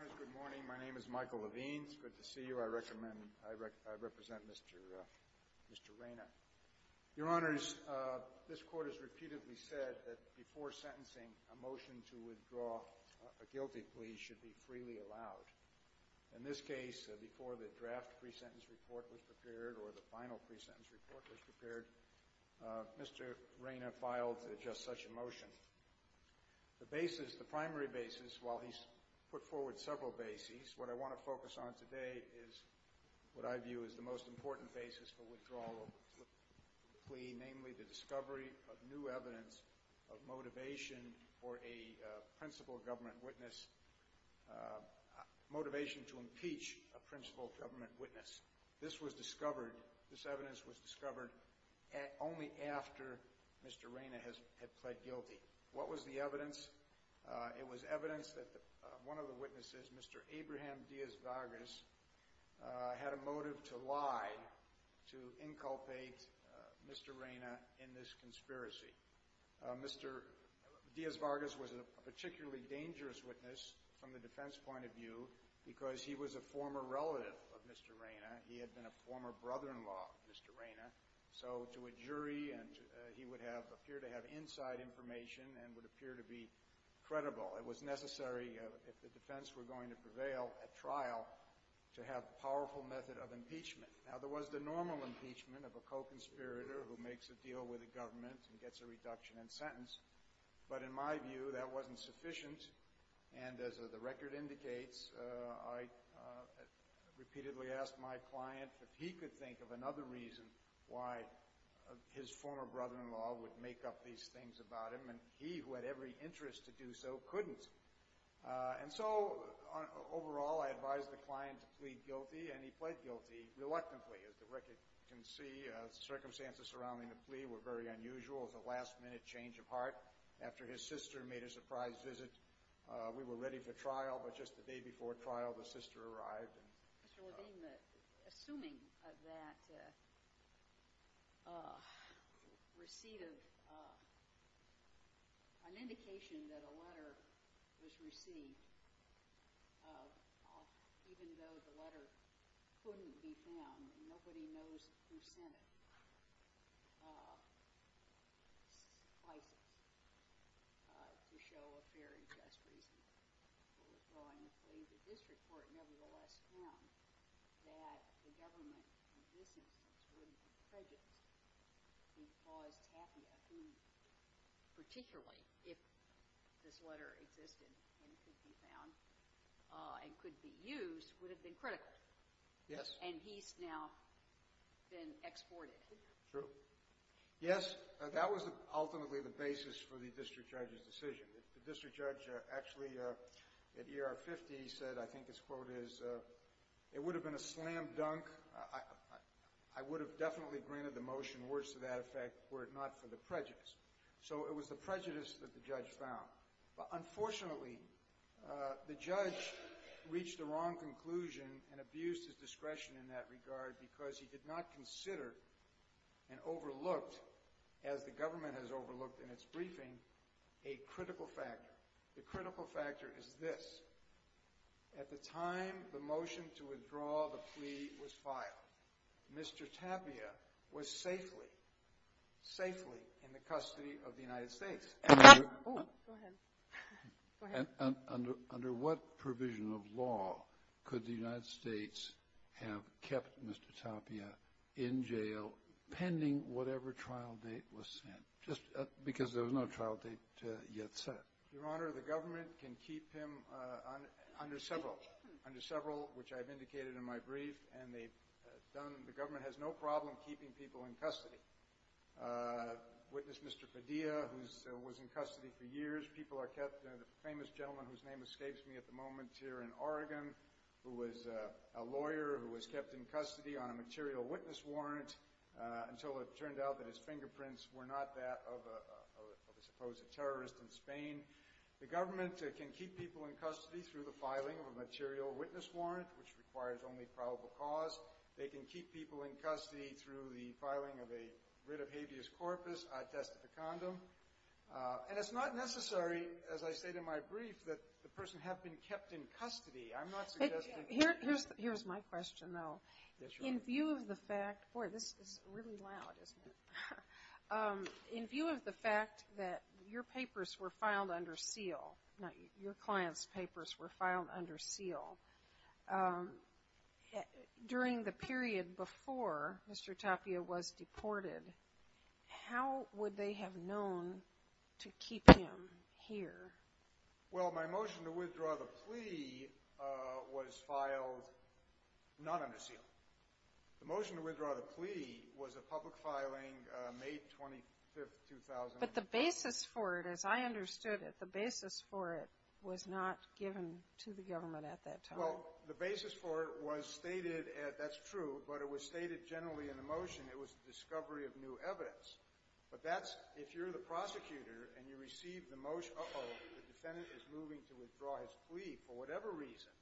Good morning. My name is Michael Levine. It's good to see you. I represent Mr. Reyna. Your Honors, this Court has repeatedly said that before sentencing, a motion to withdraw a guilty plea should be freely allowed. In this case, before the draft pre-sentence report was prepared or the final pre-sentence report was prepared, Mr. Reyna filed just such a motion. The basis, the primary basis, while he's put forward several bases, what I want to focus on today is what I view as the most important basis for withdrawal of a guilty plea, namely the discovery of new evidence of motivation for a principal government witness, motivation to impeach a principal government witness. This was discovered, this evidence was discovered only after Mr. Reyna had pled guilty. What was the evidence? It was evidence that one of the witnesses, Mr. Abraham Dias Vargas, had a motive to lie to inculpate Mr. Reyna in this conspiracy. Mr. Dias Vargas was a particularly dangerous witness from the defense point of view because he was a former relative of Mr. Reyna. He had been a former brother-in-law of Mr. Reyna. So to a jury, he would appear to have inside information and would appear to be credible. It was necessary, if the defense were going to prevail at trial, to have a powerful method of impeachment. Now, there was the normal impeachment of a co-conspirator who makes a deal with the government and gets a reduction in sentence. But in my view, that wasn't sufficient, and as the record indicates, I repeatedly asked my client if he could think of another reason why his former brother-in-law would make up these things about him, and he, who had every interest to do so, couldn't. And so, overall, I advised the client to plead guilty, and he pled guilty reluctantly. As the record can see, the circumstances surrounding the plea were very unusual. It was a last-minute change of heart. After his sister made a surprise visit, we were ready for trial, but just the day before trial, the sister arrived. Mr. Levine, assuming that receipt of – an indication that a letter was received, even though the letter couldn't be found, nobody knows who sent it, to show a fair and just reason for withdrawing the plea. But this report nevertheless found that the government, in this instance, wouldn't be prejudiced. It caused Tapia, who particularly, if this letter existed and could be found and could be used, would have been critical. Yes. And he's now been exported. True. Yes, that was ultimately the basis for the district judge's decision. The district judge actually, at E.R. 50, said, I think his quote is, it would have been a slam dunk, I would have definitely granted the motion, words to that effect, were it not for the prejudice. So it was the prejudice that the judge found. But unfortunately, the judge reached the wrong conclusion and abused his discretion in that regard because he did not consider and overlooked, as the government has overlooked in its briefing, a critical factor. The critical factor is this. At the time the motion to withdraw the plea was filed, Mr. Tapia was safely, safely in the custody of the United States. Go ahead. Under what provision of law could the United States have kept Mr. Tapia in jail pending whatever trial date was set, just because there was no trial date yet set? Your Honor, the government can keep him under several, which I've indicated in my brief, and the government has no problem keeping people in custody. Witness Mr. Padilla, who was in custody for years, people are kept, the famous gentleman whose name escapes me at the moment here in Oregon, who was a lawyer who was kept in custody on a material witness warrant, until it turned out that his fingerprints were not that of a supposed terrorist in Spain. The government can keep people in custody through the filing of a material witness warrant, which requires only probable cause. They can keep people in custody through the filing of a writ of habeas corpus, a test of a condom. And it's not necessary, as I state in my brief, that the person have been kept in custody. I'm not suggesting that they were. Here's my question, though. In view of the fact, boy, this is really loud, isn't it? In view of the fact that your papers were filed under seal, your client's papers were filed under seal, during the period before Mr. Tapia was deported, how would they have known to keep him here? Well, my motion to withdraw the plea was filed not under seal. The motion to withdraw the plea was a public filing, May 25, 2000. But the basis for it, as I understood it, the basis for it was not given to the government at that time. Well, the basis for it was stated, and that's true, but it was stated generally in the motion. It was the discovery of new evidence. But that's, if you're the prosecutor and you receive the motion, uh-oh, the defendant is moving to withdraw his plea, for whatever reason,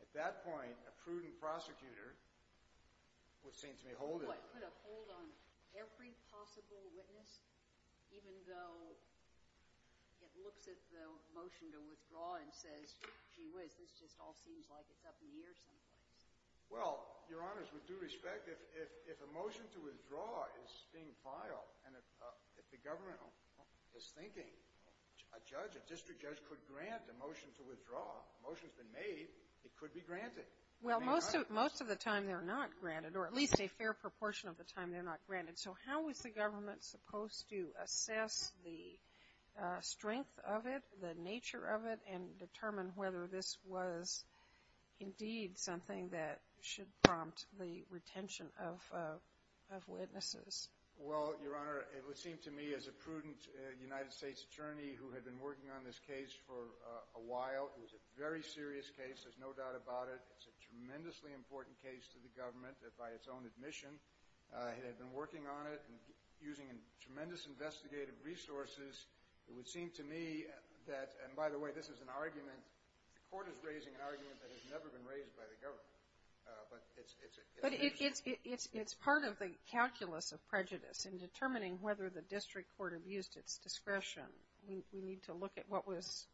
at that point, a prudent prosecutor would seem to be holding it. So it could uphold on every possible witness, even though it looks at the motion to withdraw and says, gee whiz, this just all seems like it's up in the air someplace? Well, Your Honors, with due respect, if a motion to withdraw is being filed and if the government is thinking a judge, a district judge, could grant a motion to withdraw, the motion's been made, it could be granted. Well, most of the time they're not granted, or at least a fair proportion of the time they're not granted. So how is the government supposed to assess the strength of it, the nature of it, and determine whether this was indeed something that should prompt the retention of witnesses? Well, Your Honor, it would seem to me, as a prudent United States attorney who had been working on this case for a while, it was a very serious case, there's no doubt about it. It's a tremendously important case to the government by its own admission. It had been working on it and using tremendous investigative resources. It would seem to me that, and by the way, this is an argument, the Court is raising an argument that has never been raised by the government. But it's an interesting argument. But it's part of the calculus of prejudice in determining whether the district court abused its discretion. We need to look at what was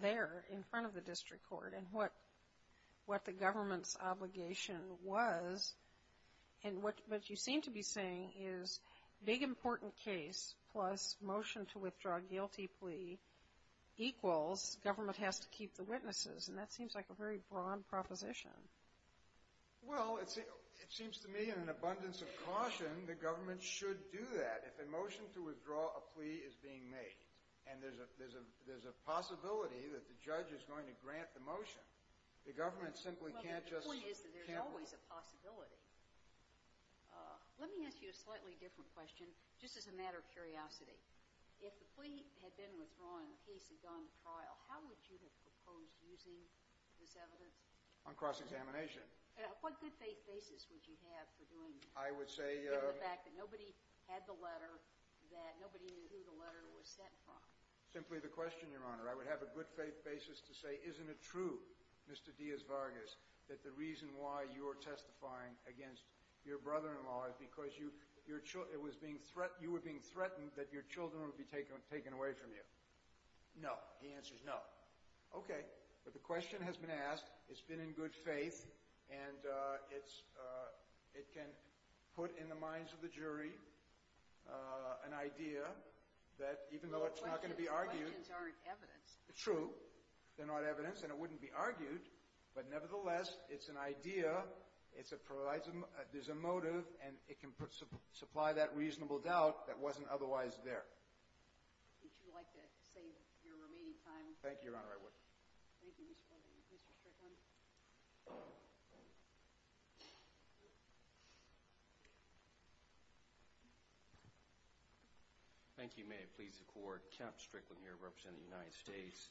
there in front of the district court and what the government's obligation was. And what you seem to be saying is big important case plus motion to withdraw a guilty plea equals government has to keep the witnesses. And that seems like a very broad proposition. Well, it seems to me, in an abundance of caution, the government should do that. And if a motion to withdraw a plea is being made and there's a possibility that the judge is going to grant the motion, the government simply can't just can't do it. Well, the point is that there's always a possibility. Let me ask you a slightly different question, just as a matter of curiosity. If the plea had been withdrawn and the case had gone to trial, how would you have proposed using this evidence? On cross-examination. What good faith basis would you have for doing this? I would say the fact that nobody had the letter, that nobody knew who the letter was sent from. Simply the question, Your Honor. I would have a good faith basis to say, isn't it true, Mr. Diaz Vargas, that the reason why you are testifying against your brother-in-law is because you were being threatened that your children would be taken away from you? No. The answer is no. OK. But the question has been asked. It's been in good faith, and it can put in the minds of the jury an idea that even though it's not going to be argued. But the questions aren't evidence. True. They're not evidence, and it wouldn't be argued. But nevertheless, it's an idea. There's a motive, and it can supply that reasonable doubt that wasn't otherwise there. Would you like to save your remaining time? Thank you, Your Honor. Thank you. May it please the Court. Kemp Strickland here, representing the United States.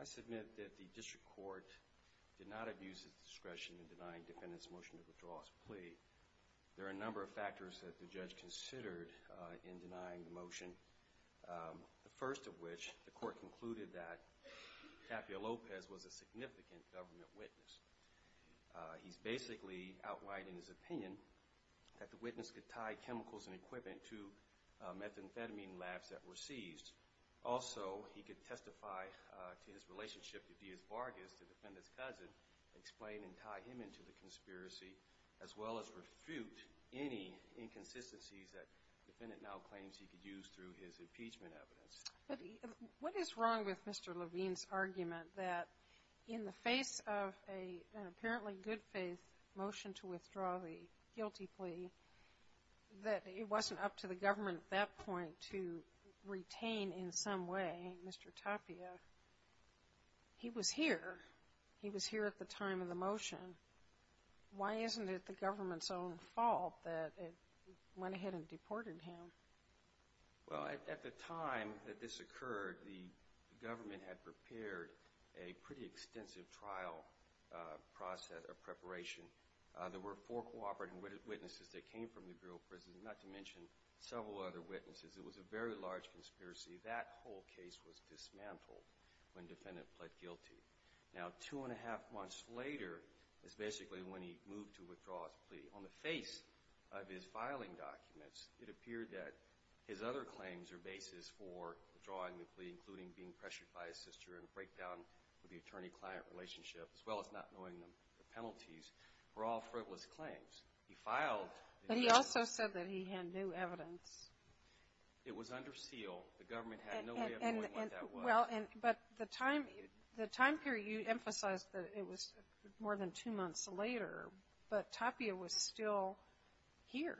I submit that the district court did not abuse its discretion in denying defendants' motion to withdraw a plea. There are a number of factors that the judge considered in denying the motion. The first of which, the court concluded that Tapia Lopez was a significant government witness. He's basically outlined in his opinion that the witness could tie chemicals and equipment to methamphetamine labs that were seized. Also, he could testify to his relationship with Diaz Vargas, the defendant's cousin, explain and tie him into the conspiracy, as well as refute any inconsistencies that the defendant now claims he could use through his impeachment evidence. What is wrong with Mr. Levine's argument that in the face of an apparently good-faith motion to withdraw the guilty plea, that it wasn't up to the government at that point to retain in some way Mr. Tapia? He was here. He was here at the time of the motion. Why isn't it the government's own fault that it went ahead and deported him? Well, at the time that this occurred, the government had prepared a pretty extensive trial process of preparation. There were four cooperating witnesses that came from the Bureau of Prisons, not to mention several other witnesses. It was a very large conspiracy. That whole case was dismantled when the defendant pled guilty. Now, two-and-a-half months later is basically when he moved to withdraw his plea. On the face of his filing documents, it appeared that his other claims or basis for withdrawing the plea, including being pressured by his sister and a breakdown of the attorney-client relationship, as well as not knowing the penalties, were all frivolous claims. He filed. But he also said that he had new evidence. It was under seal. The government had no way of knowing what that was. Well, but the time period, you emphasized that it was more than two months later, but Tapia was still here.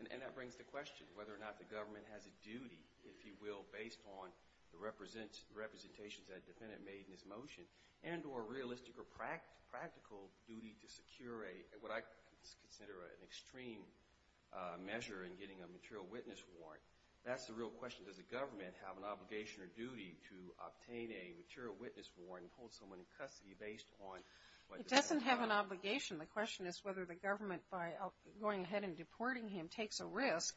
And that brings the question whether or not the government has a duty, if you will, based on the representations that a defendant made in his motion, and or realistic or practical duty to secure what I consider an extreme measure in getting a material witness warrant. That's the real question. Does the government have an obligation or duty to obtain a material witness warrant and hold someone in custody based on what the defendant filed? It doesn't have an obligation. The question is whether the government, by going ahead and deporting him, takes a risk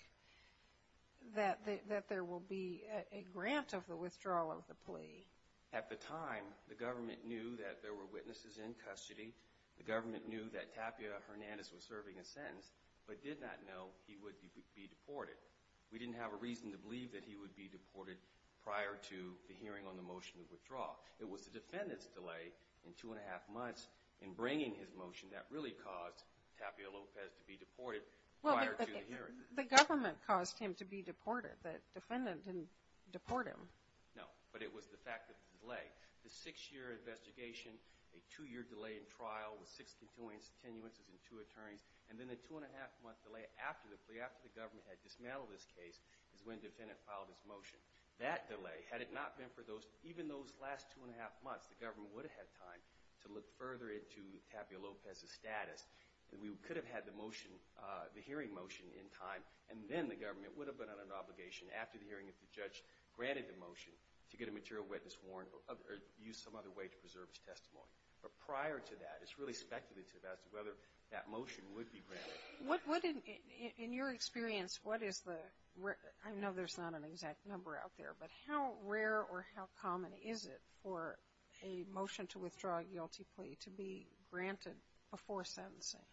that there will be a grant of the withdrawal of the plea. At the time, the government knew that there were witnesses in custody. The government knew that Tapia Hernandez was serving a sentence, but did not know he would be deported. We didn't have a reason to believe that he would be deported prior to the hearing on the motion of withdrawal. It was the defendant's delay in two and a half months in bringing his motion that really caused Tapia Lopez to be deported prior to the hearing. Well, the government caused him to be deported. The defendant didn't deport him. No, but it was the fact of the delay. The six-year investigation, a two-year delay in trial with six continuances and two attorneys, and then the two-and-a-half-month delay after the plea, after the government had dismantled this case, is when the defendant filed his motion. That delay, had it not been for those, even those last two-and-a-half months, the government would have had time to look further into Tapia Lopez's status. We could have had the motion, the hearing motion in time, and then the government would have been under obligation after the hearing if the judge granted the motion to get a material witness warrant or use some other way to preserve his testimony. But prior to that, it's really speculative as to whether that motion would be granted. In your experience, what is the rare, I know there's not an exact number out there, but how rare or how common is it for a motion to withdraw a guilty plea to be granted before sentencing?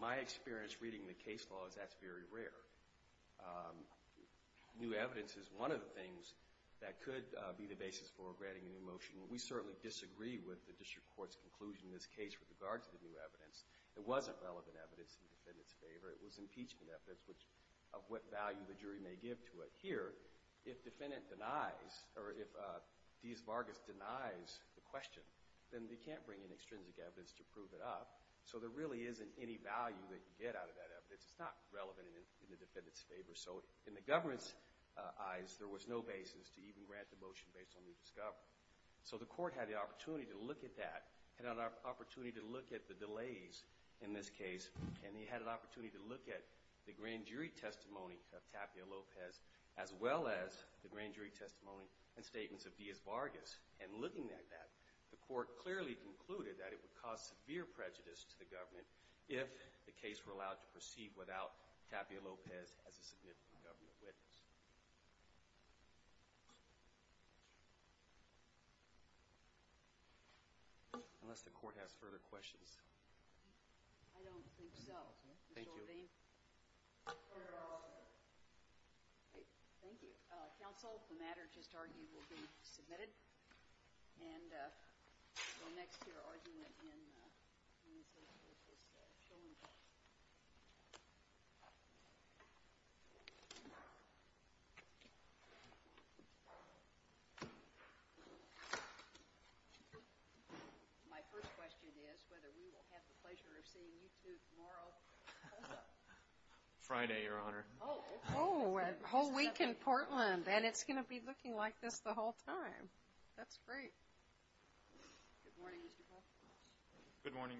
My experience reading the case law is that's very rare. New evidence is one of the things that could be the basis for granting a new motion. We certainly disagree with the district court's conclusion in this case with regards to the new evidence. It wasn't relevant evidence in the defendant's favor. It was impeachment evidence of what value the jury may give to it. Here, if defendant denies or if Diaz-Vargas denies the question, then they can't bring in extrinsic evidence to prove it up. So there really isn't any value that you get out of that evidence. It's not relevant in the defendant's favor. So in the government's eyes, there was no basis to even grant the motion based on what we discovered. So the court had the opportunity to look at that, had an opportunity to look at the delays in this case, and they had an opportunity to look at the grand jury testimony of Tapia Lopez as well as the grand jury testimony and statements of Diaz-Vargas. And looking at that, the court clearly concluded that it would cause severe prejudice to the government if the case were allowed to proceed without Tapia Lopez as a significant government witness. Unless the court has further questions. I don't think so. Thank you. Mr. Levine. Thank you. Counsel, the matter just argued will be submitted. And we'll go next to your argument in the association's showroom. My first question is whether we will have the pleasure of seeing you two tomorrow. How's that? Friday, Your Honor. Oh, a whole week in Portland. And it's going to be looking like this the whole time. That's great. Good morning, Mr. Paul. Good morning.